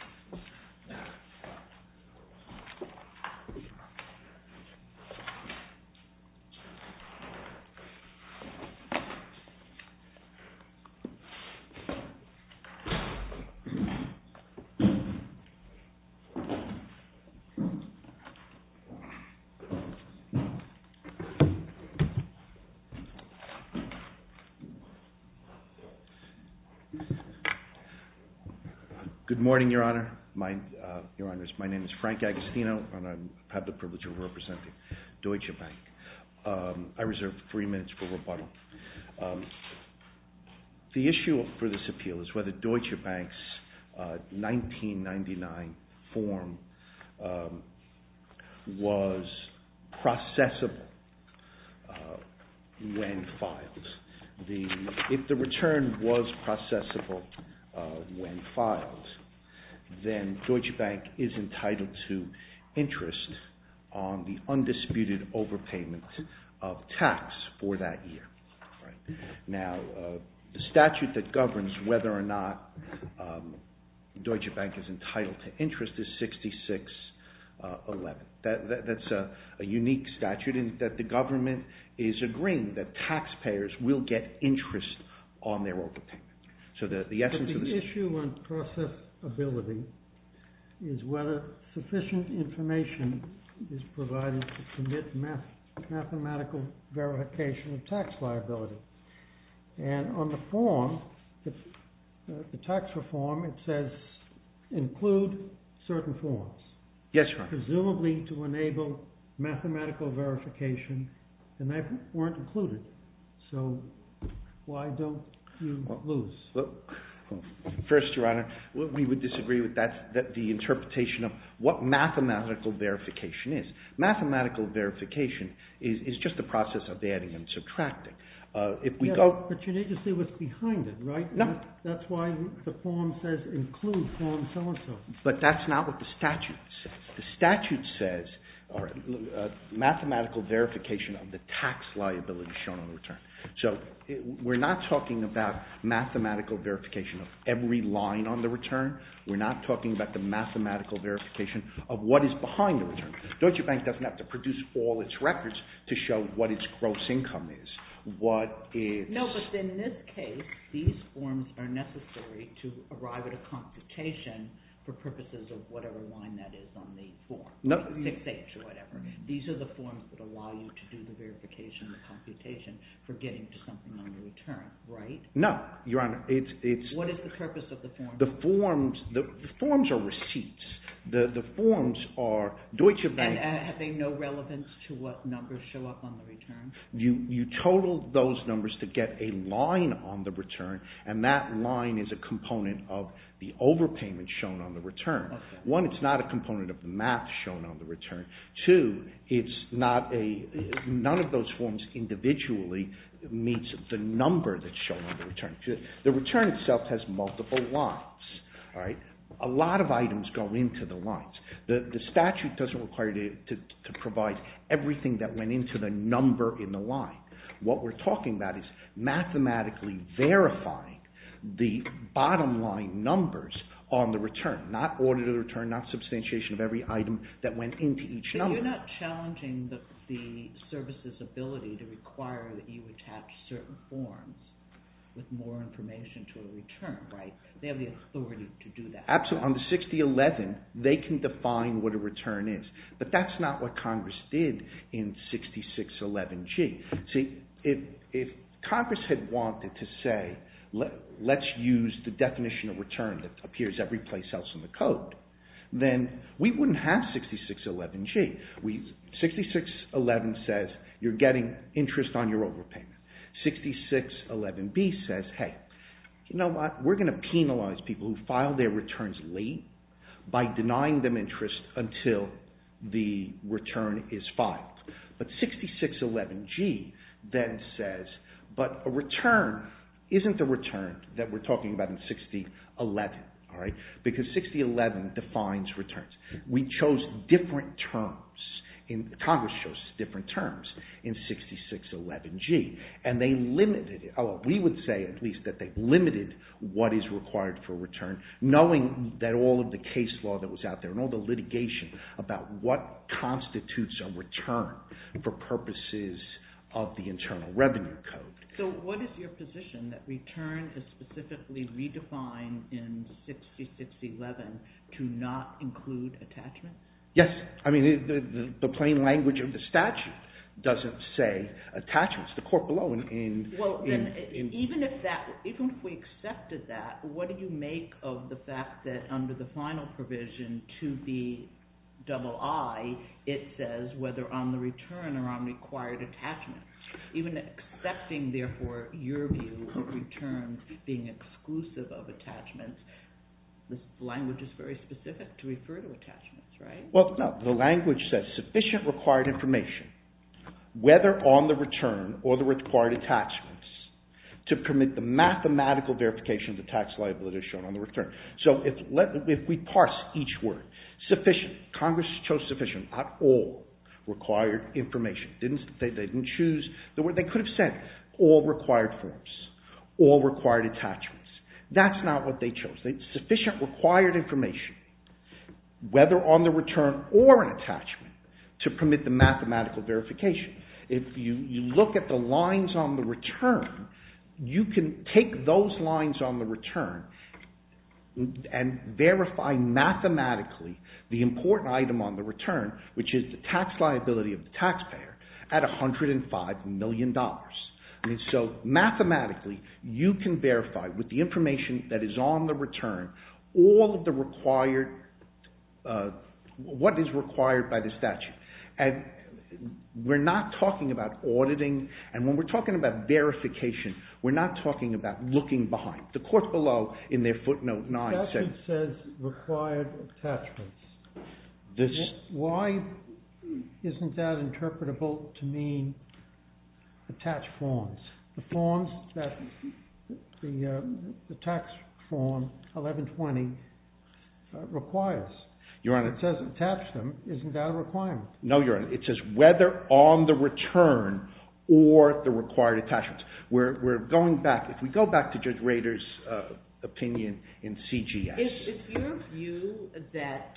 Bank of America, United States Bank of America, United States Bank of America, Bank of America, Your Honor, my name is Frank Agostino, and I have the privilege of representing Deutsche Bank. I reserve three minutes for rebuttal. The issue for this appeal is whether Deutsche Bank's 1999 form was processable when filed. If the return was processable when filed, then Deutsche Bank is entitled to interest on the undisputed overpayment of tax for that year. Now, the statute that governs whether or not Deutsche Bank is entitled to interest is 6611. That's a unique statute in that the government is agreeing that taxpayers will get interest on their overpayment. But the issue on processability is whether sufficient information is provided to commit mathematical verification of tax liability. And on the form, the tax reform, it says include certain forms. Yes, Your Honor. Presumably to enable mathematical verification, and they weren't included. So why don't you lose? First, Your Honor, we would disagree with the interpretation of what mathematical verification is. Mathematical verification is just the process of adding and subtracting. But you need to see what's behind it, right? No. That's why the form says include form so-and-so. But that's not what the statute says. The statute says mathematical verification of the tax liability shown on the return. So we're not talking about mathematical verification of every line on the return. We're not talking about the mathematical verification of what is behind the return. Deutsche Bank doesn't have to produce all its records to show what its gross income is. No, but in this case, these forms are necessary to arrive at a computation for purposes of whatever line that is on the form. These are the forms that allow you to do the verification, the computation for getting to something on the return, right? No, Your Honor. What is the purpose of the forms? The forms are receipts. And are they no relevance to what numbers show up on the return? You total those numbers to get a line on the return, and that line is a component of the overpayment shown on the return. One, it's not a component of the math shown on the return. Two, none of those forms individually meets the number that's shown on the return. The return itself has multiple lines. A lot of items go into the lines. The statute doesn't require you to provide everything that went into the number in the line. What we're talking about is mathematically verifying the bottom line numbers on the return, not audit of the return, not substantiation of every item that went into each number. But you're not challenging the service's ability to require that you attach certain forms with more information to a return, right? They have the authority to do that. Absolutely. On the 6011, they can define what a return is. But that's not what Congress did in 6611G. See, if Congress had wanted to say, let's use the definition of return that appears every place else in the code, then we wouldn't have 6611G. 6611 says you're getting interest on your overpayment. 6611B says, hey, you know what? We're going to penalize people who file their returns late by denying them interest until the return is filed. But 6611G then says, but a return isn't the return that we're talking about in 6011, all right? Because 6011 defines returns. We chose different terms. Congress chose different terms in 6611G. And they limited it. Oh, we would say at least that they limited what is required for return, knowing that all of the case law that was out there and all the litigation about what constitutes a return for purposes of the Internal Revenue Code. So what is your position, that return is specifically redefined in 6611 to not include attachments? Yes. I mean, the plain language of the statute doesn't say attachments. Well, even if we accepted that, what do you make of the fact that under the final provision to the II, it says whether on the return or on required attachments. Even accepting, therefore, your view of returns being exclusive of attachments, the language is very specific to refer to attachments, right? Well, no. The language says sufficient required information, whether on the return or the required attachments, to permit the mathematical verification of the tax liability shown on the return. So if we parse each word, sufficient, Congress chose sufficient, not all required information. They didn't choose the word they could have said, all required forms, all required attachments. That's not what they chose. Sufficient required information, whether on the return or an attachment, to permit the mathematical verification. If you look at the lines on the return, you can take those lines on the return and verify mathematically the important item on the return, which is the tax liability of the taxpayer, at $105 million. So mathematically, you can verify with the information that is on the return all of the required, what is required by the statute. And we're not talking about auditing, and when we're talking about verification, we're not talking about looking behind. The court below in their footnote 9 says... The statute says required attachments. Why isn't that interpretable to mean attached forms? The forms that the tax form 1120 requires. Your Honor. It says attach them, isn't that a requirement? No, Your Honor. It says whether on the return or the required attachments. We're going back, if we go back to Judge Rader's opinion in CGS. Is your view that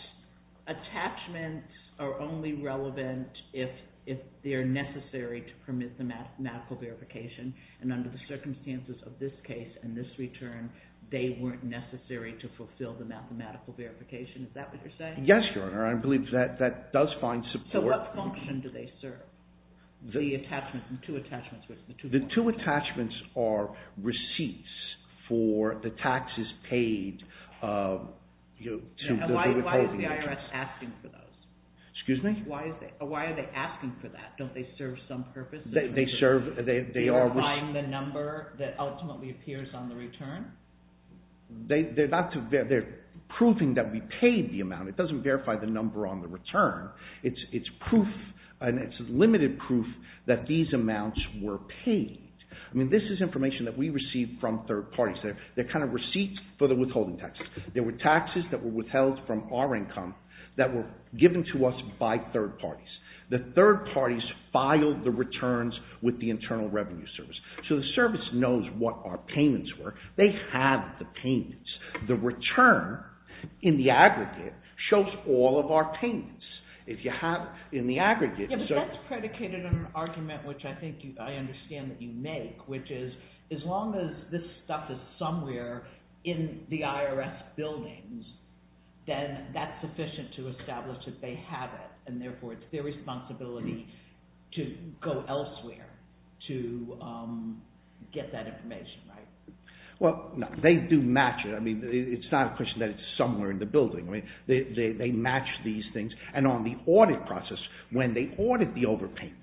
attachments are only relevant if they're necessary to permit the mathematical verification, and under the circumstances of this case and this return, they weren't necessary to fulfill the mathematical verification? Is that what you're saying? Yes, Your Honor. I believe that does find support. So what function do they serve? The attachment, the two attachments. The two attachments are receipts for the taxes paid to the withholding interest. And why is the IRS asking for those? Excuse me? Why are they asking for that? Don't they serve some purpose? They serve... They are buying the number that ultimately appears on the return? They're proving that we paid the amount. It doesn't verify the number on the return. It's proof, and it's limited proof, that these amounts were paid. I mean, this is information that we received from third parties. They're kind of receipts for the withholding taxes. There were taxes that were withheld from our income that were given to us by third parties. The third parties filed the returns with the Internal Revenue Service. So the service knows what our payments were. The return in the aggregate shows all of our payments. If you have in the aggregate... Yeah, but that's predicated on an argument which I think I understand that you make, which is, as long as this stuff is somewhere in the IRS buildings, then that's sufficient to establish that they have it, and therefore it's their responsibility to go elsewhere to get that information, right? Well, they do match it. I mean, it's not a question that it's somewhere in the building. They match these things. And on the audit process, when they audit the overpayment,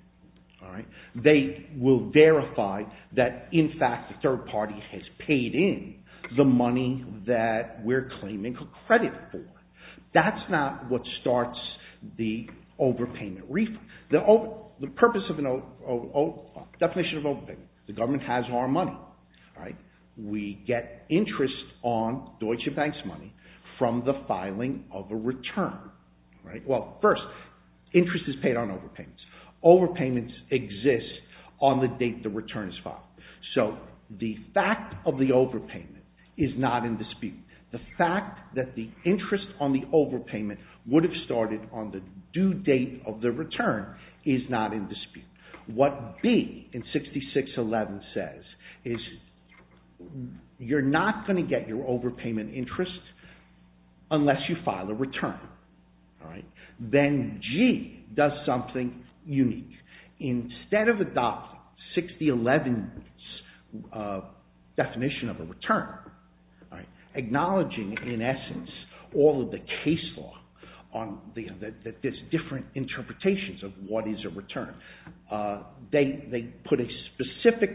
they will verify that, in fact, the third party has paid in the money that we're claiming credit for. That's not what starts the overpayment refund. The purpose of a definition of overpayment, the government has our money, right? We get interest on Deutsche Bank's money from the filing of a return, right? Well, first, interest is paid on overpayments. Overpayments exist on the date the return is filed. So the fact of the overpayment is not in dispute. The fact that the interest on the overpayment would have started on the due date of the return is not in dispute. What B in 6611 says is, you're not going to get your overpayment interest unless you file a return. Then G does something unique. Instead of adopting 6011's definition of a return, acknowledging, in essence, all of the case law, there's different interpretations of what is a return. They put specific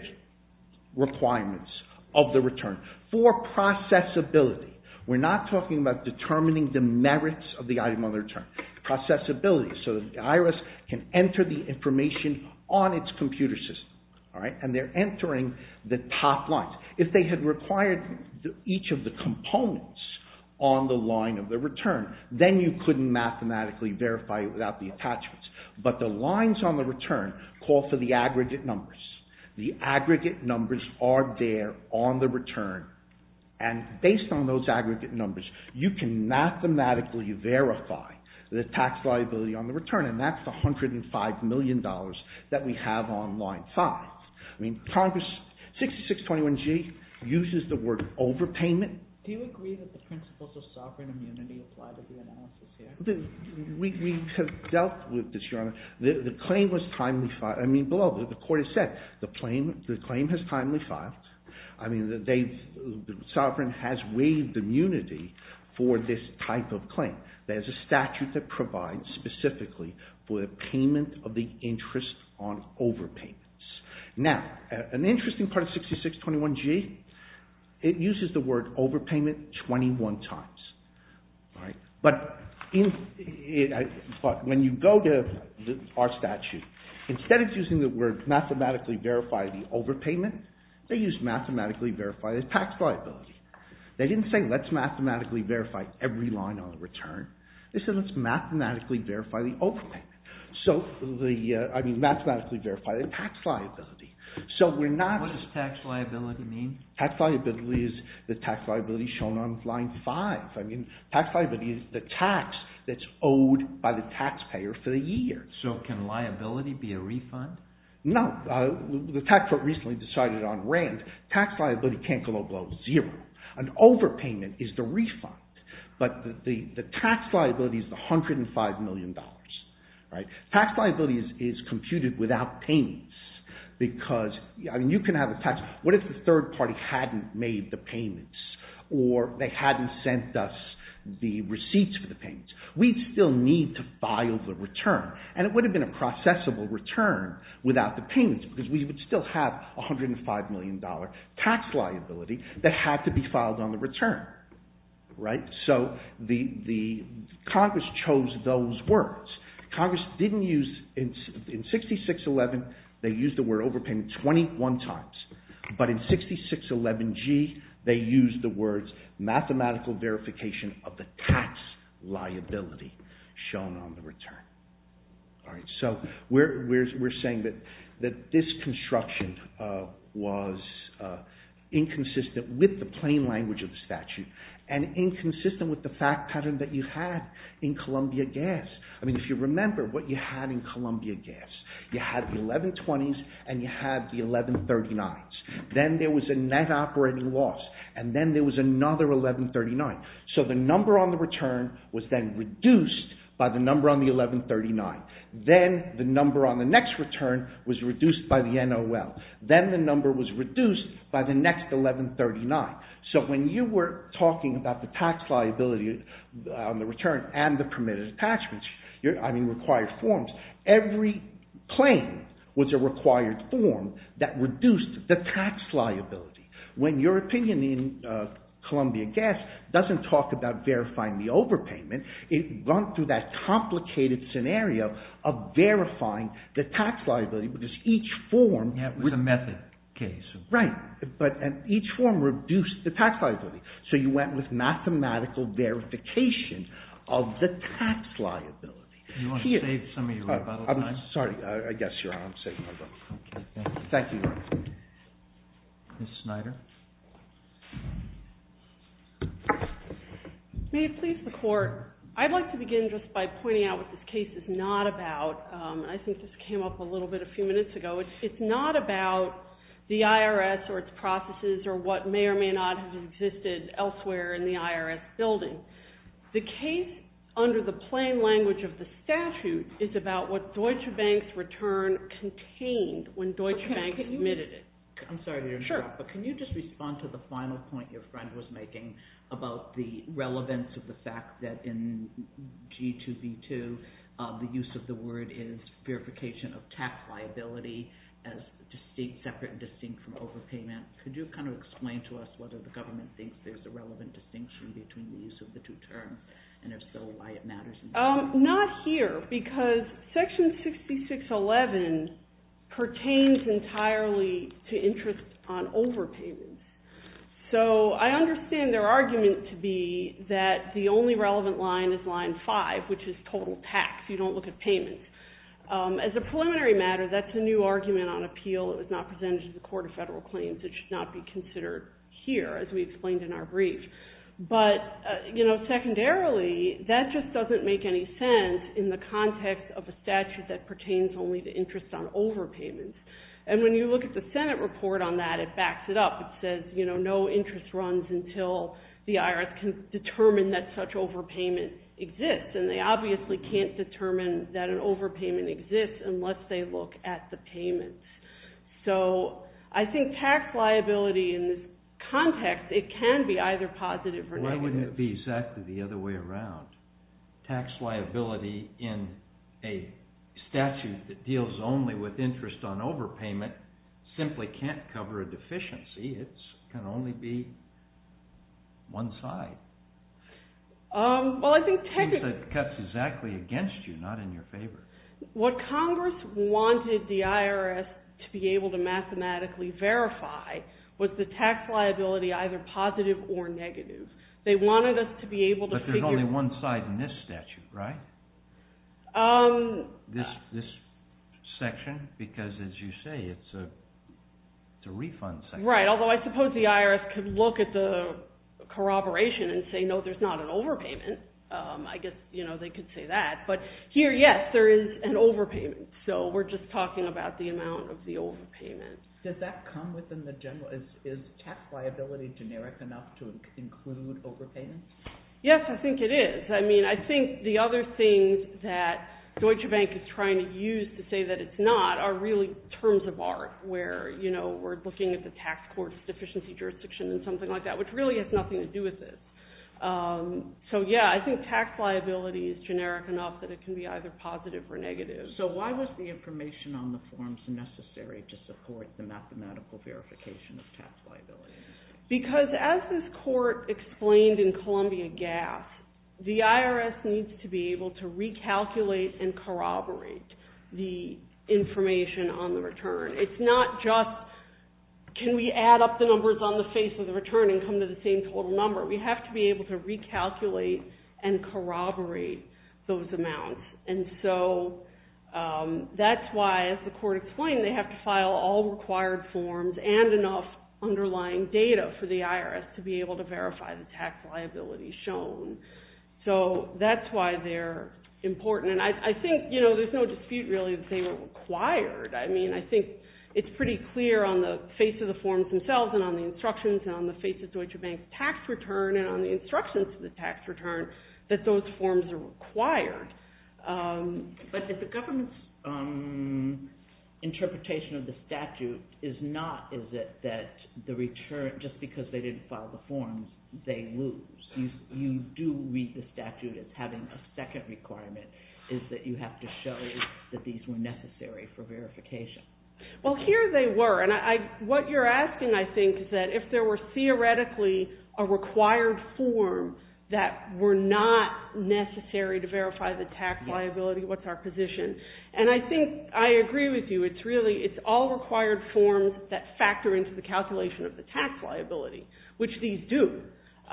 requirements of the return for processability. We're not talking about determining the merits of the item on the return. Processability, so the IRS can enter the information on its computer system, and they're entering the top lines. If they had required each of the components on the line of the return, then you couldn't mathematically verify it without the attachments. But the lines on the return call for the aggregate numbers. The aggregate numbers are there on the return, and based on those aggregate numbers, you can mathematically verify the tax liability on the return, and that's the $105 million that we have on line 5. I mean, Congress, 6621G, uses the word overpayment. Do you agree that the principles of sovereign immunity apply to the analysis here? We have dealt with this, Your Honor. The claim was timely filed. I mean, below, the court has said the claim has timely filed. I mean, the sovereign has waived immunity for this type of claim. There's a statute that provides, specifically, for the payment of the interest on overpayments. Now, an interesting part of 6621G, it uses the word overpayment 21 times. But when you go to our statute, instead of using the word mathematically verify the overpayment, they use mathematically verify the tax liability. They didn't say let's mathematically verify every line on the return. They said let's mathematically verify the overpayment. I mean, mathematically verify the tax liability. What does tax liability mean? Tax liability is the tax liability shown on line 5. I mean, tax liability is the tax that's owed by the taxpayer for the year. So can liability be a refund? No. The tax court recently decided on rent. Tax liability can't go below zero. An overpayment is the refund. But the tax liability is the $105 million. Tax liability is computed without payments. Because you can have a tax, what if the third party hadn't made the payments or they hadn't sent us the receipts for the payments? We'd still need to file the return. And it would have been a processable return without the payments because we would still have $105 million tax liability that had to be filed on the return. So Congress chose those words. Congress didn't use, in 6611, they used the word overpayment 21 times. But in 6611 G, they used the words mathematical verification of the tax liability shown on the return. So we're saying that this construction was inconsistent with the plain language of the statute and inconsistent with the fact pattern that you had in Columbia Gas. If you remember what you had in Columbia Gas, you had the 1120s and you had the 1139s. Then there was a net operating loss. And then there was another 1139. So the number on the return was then reduced by the number on the 1139. Then the number on the next return was reduced by the NOL. Then the number was reduced by the next 1139. So when you were talking about the tax liability on the return and the permitted attachments, I mean required forms, every claim was a required form that reduced the tax liability. When your opinion in Columbia Gas doesn't talk about verifying the overpayment, it went through that complicated scenario of verifying the tax liability because each form reduced the tax liability. So you went with mathematical verification of the tax liability. I'm sorry. I guess you're on. Thank you, Your Honor. Ms. Snyder. May it please the Court. I'd like to begin just by pointing out what this case is not about. I think this came up a little bit a few minutes ago. It's not about the IRS or its processes or what may or may not have existed elsewhere in the IRS building. The case under the plain language of the statute is about what Deutsche Bank's return contained when Deutsche Bank admitted it. I'm sorry to interrupt, but can you just respond to the final point your friend was making about the relevance of the fact that in G2B2 the use of the word is verification of tax liability as distinct, separate and distinct from overpayment. Could you kind of explain to us whether the government thinks there's a relevant distinction between the use of the two terms and if so, why it matters? Not here because Section 6611 pertains entirely to interest on overpayments. So I understand their argument to be that the only relevant line is line 5, which is total tax. You don't look at payments. As a preliminary matter, that's a new argument on appeal. It was not presented to the Court of Federal Claims. It should not be considered here as we explained in our brief. But, you know, secondarily, that just doesn't make any sense in the context of a statute that pertains only to interest on overpayments. And when you look at the Senate report on that, it backs it up. It says, you know, no interest runs until the IRS can determine that such overpayment exists. And they obviously can't determine that an overpayment exists unless they look at the payments. So I think tax liability in this context, it can be either positive or negative. Why wouldn't it be exactly the other way around? Tax liability in a statute that deals only with interest on overpayment simply can't cover a deficiency. It can only be one side. Well, I think technically... It cuts exactly against you, not in your favor. What Congress wanted the IRS to be able to mathematically verify was the tax liability either positive or negative. They wanted us to be able to figure... But there's only one side in this statute, right? This section? Because, as you say, it's a refund section. Right, although I suppose the IRS could look at the corroboration and say, no, there's not an overpayment. I guess they could say that. But here, yes, there is an overpayment. So we're just talking about the amount of the overpayment. Does that come within the general... Is tax liability generic enough to include overpayments? Yes, I think it is. I mean, I think the other things that Deutsche Bank is trying to use to say that it's not are really terms of art where we're looking at the tax court's deficiency jurisdiction and something like that, which really has nothing to do with this. So, yeah, I think tax liability is generic enough that it can be either positive or negative. So why was the information on the forms necessary to support the mathematical verification of tax liability? Because, as this court explained in Columbia Gas, the IRS needs to be able to recalculate and corroborate the information on the return. It's not just can we add up the numbers on the face of the return and come to the same total number. We have to be able to recalculate and corroborate those amounts. And so that's why, as the court explained, they have to file all required forms and enough underlying data for the IRS to be able to verify the tax liability shown. So that's why they're important. And I think there's no dispute, really, that they were required. I mean, I think it's pretty clear on the face of the forms themselves and on the instructions and on the face of Deutsche Bank's tax return and on the instructions of the tax return that those forms are required. But if the government's interpretation of the statute is not is it that the return, just because they didn't file the forms, they lose. You do read the statute as having a second requirement, is that you have to show that these were necessary for verification. Well, here they were. And what you're asking, I think, is that if there were theoretically a required form that were not necessary to verify the tax liability, what's our position? And I think I agree with you. It's really it's all required forms that factor into the calculation of the tax liability, which these do.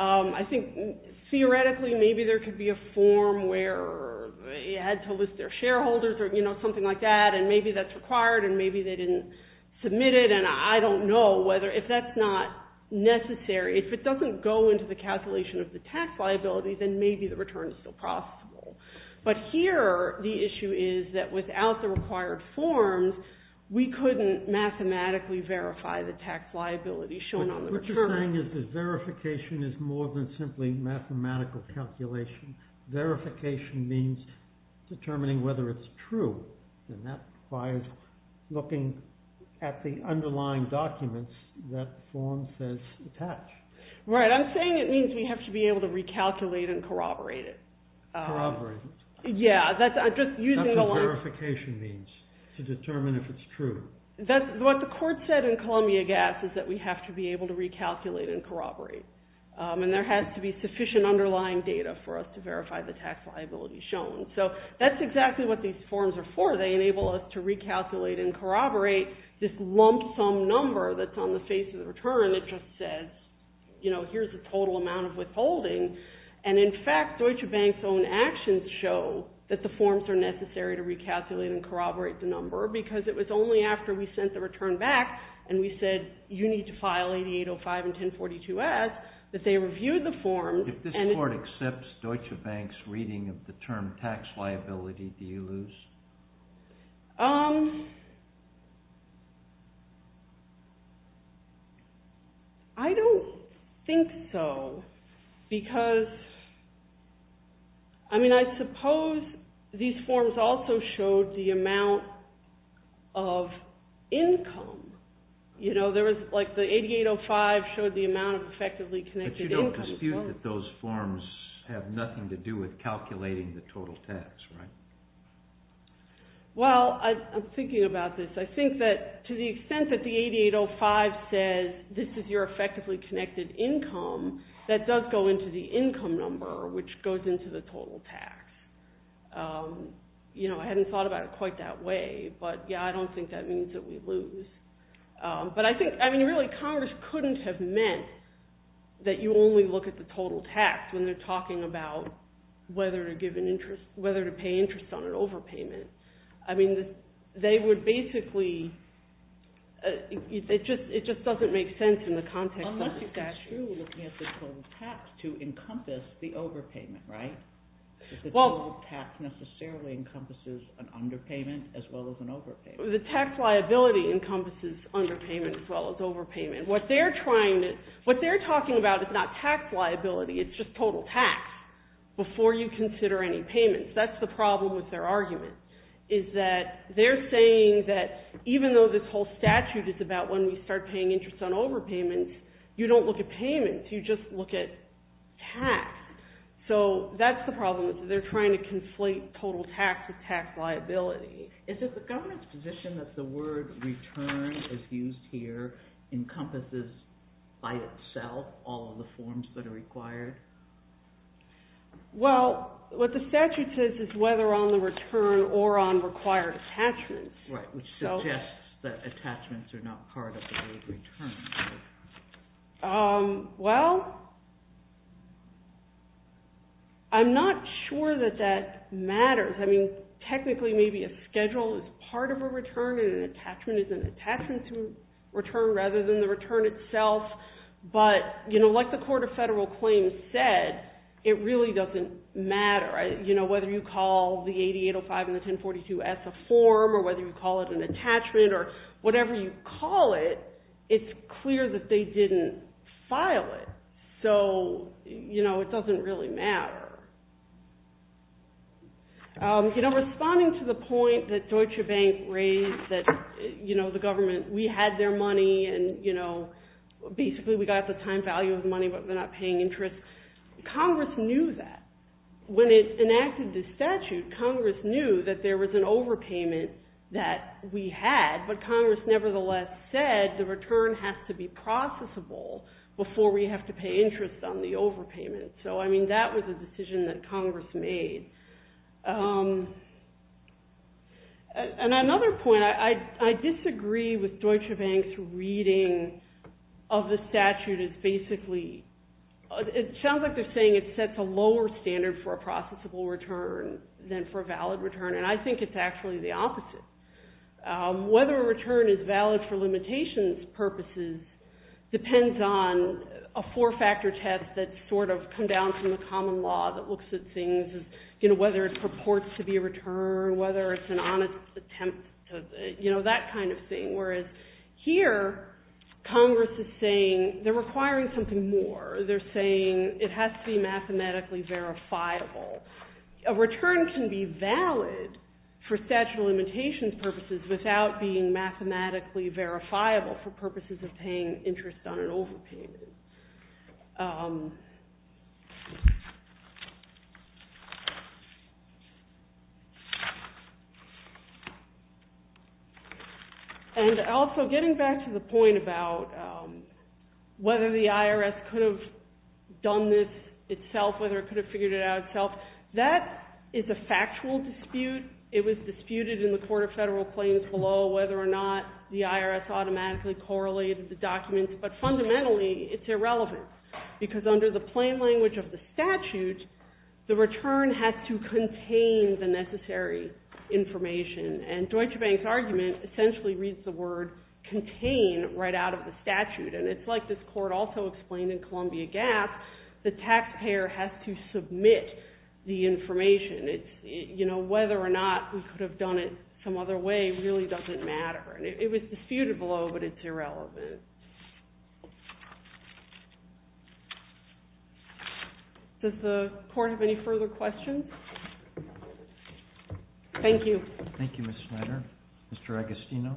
I think theoretically maybe there could be a form where they had to list their shareholders or something like that, and maybe that's required and maybe they didn't submit it. And I don't know whether if that's not necessary. If it doesn't go into the calculation of the tax liability, then maybe the return is still possible. But here the issue is that without the required forms, we couldn't mathematically verify the tax liability shown on the return. What you're saying is that verification is more than simply mathematical calculation. Verification means determining whether it's true, and that requires looking at the underlying documents that the form says attach. Right. I'm saying it means we have to be able to recalculate and corroborate it. Corroborate it. Yeah. That's just using the last... That's what verification means, to determine if it's true. That's what the court said in Columbia Gas, is that we have to be able to recalculate and corroborate. And there has to be sufficient underlying data for us to verify the tax liability shown. So that's exactly what these forms are for. They enable us to recalculate and corroborate this lump sum number that's on the face of the return. It just says, you know, here's the total amount of withholding. And in fact, Deutsche Bank's own actions show that the forms are necessary to recalculate and corroborate the number, because it was only after we sent the return back and we said, you need to file 8805 and 1042S, that they reviewed the forms and... If this court accepts Deutsche Bank's reading of the term tax liability, do you lose? I don't think so, because... I mean, I suppose these forms also showed the amount of income. You know, there was, like, the 8805 showed the amount of effectively connected income. But you don't dispute that those forms have nothing to do with calculating the total tax, right? Well, I'm thinking about this. I think that to the extent that the 8805 says, this is your effectively connected income, that does go into the income number, which goes into the total tax. You know, I hadn't thought about it quite that way. But, yeah, I don't think that means that we lose. But I think, I mean, really, Congress couldn't have meant that you only look at the total tax when they're talking about whether to give an interest, whether to pay interest on an overpayment. I mean, they would basically... It just doesn't make sense in the context of... Unless you construe looking at the total tax to encompass the overpayment, right? Because the total tax necessarily encompasses an underpayment as well as an overpayment. The tax liability encompasses underpayment as well as overpayment. What they're trying to... What they're talking about is not tax liability. It's just total tax before you consider any payments. That's the problem with their argument, is that they're saying that even though this whole statute is about when we start paying interest on overpayments, you don't look at payments. You just look at tax. So that's the problem. They're trying to conflate total tax with tax liability. Is it the government's position that the word return as used here encompasses by itself all of the forms that are required? Well, what the statute says is whether on the return or on required attachments. Right, which suggests that attachments are not part of the rate of return. Well... I'm not sure that that matters. I mean, technically, maybe a schedule is part of a return and an attachment is an attachment to a return rather than the return itself. But, you know, like the Court of Federal Claims said, it really doesn't matter. You know, whether you call the 8805 and the 1042-S a form or whether you call it an attachment or whatever you call it, it's clear that they didn't file it. So, you know, it doesn't really matter. You know, responding to the point that Deutsche Bank raised that, you know, the government, we had their money and, you know, basically we got the time value of the money but we're not paying interest, Congress knew that. When it enacted the statute, Congress knew that there was an overpayment that we had but Congress nevertheless said the return has to be processable before we have to pay interest on the overpayment. So, I mean, that was a decision that Congress made. And another point, I disagree with Deutsche Bank's reading of the statute as basically... It sounds like they're saying it sets a lower standard for a processable return than for a valid return and I think it's actually the opposite. Whether a return is valid for limitations purposes depends on a four-factor test that's sort of come down from the common law that looks at things as, you know, whether it purports to be a return, whether it's an honest attempt to... You know, that kind of thing. Whereas here, Congress is saying they're requiring something more. They're saying it has to be mathematically verifiable. A return can be valid for statute of limitations purposes without being mathematically verifiable for purposes of paying interest on an overpayment. And also, getting back to the point about whether the IRS could have done this itself, whether it could have figured it out itself, that is a factual dispute. It was disputed in the Court of Federal Claims below whether or not the IRS automatically correlated the documents. But fundamentally, it's irrelevant because under the plain language of the statute, the return has to contain the necessary information. And Deutsche Bank's argument essentially reads the word contain right out of the statute. And it's like this Court also explained in Columbia Gap, the taxpayer has to submit the information. You know, whether or not we could have done it some other way really doesn't matter. It was disputed below, but it's irrelevant. Does the Court have any further questions? Thank you. Thank you, Ms. Schneider. Mr. Agostino?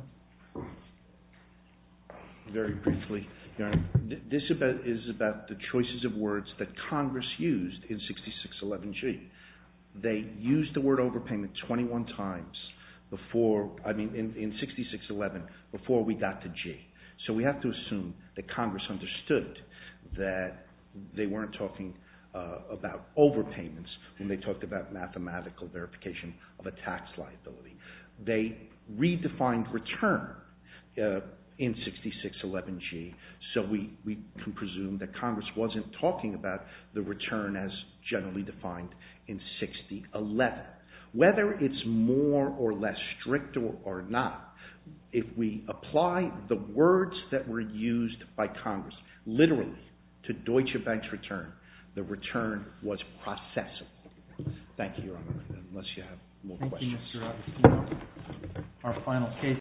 Very briefly, Your Honor. This is about the choices of words that Congress used in 6611G. They used the word overpayment 21 times before, I mean in 6611, before we got to G. So we have to assume that Congress understood that they weren't talking about overpayments when they talked about mathematical verification of a tax liability. They redefined return in 6611G. So we can presume that Congress wasn't talking about the return as generally defined in 6011. Whether it's more or less strict or not, if we apply the words that were used by Congress literally to Deutsche Bank's return, the return was processable. Thank you, Your Honor, unless you have more questions. Thank you, Mr. Agostino. Our final case.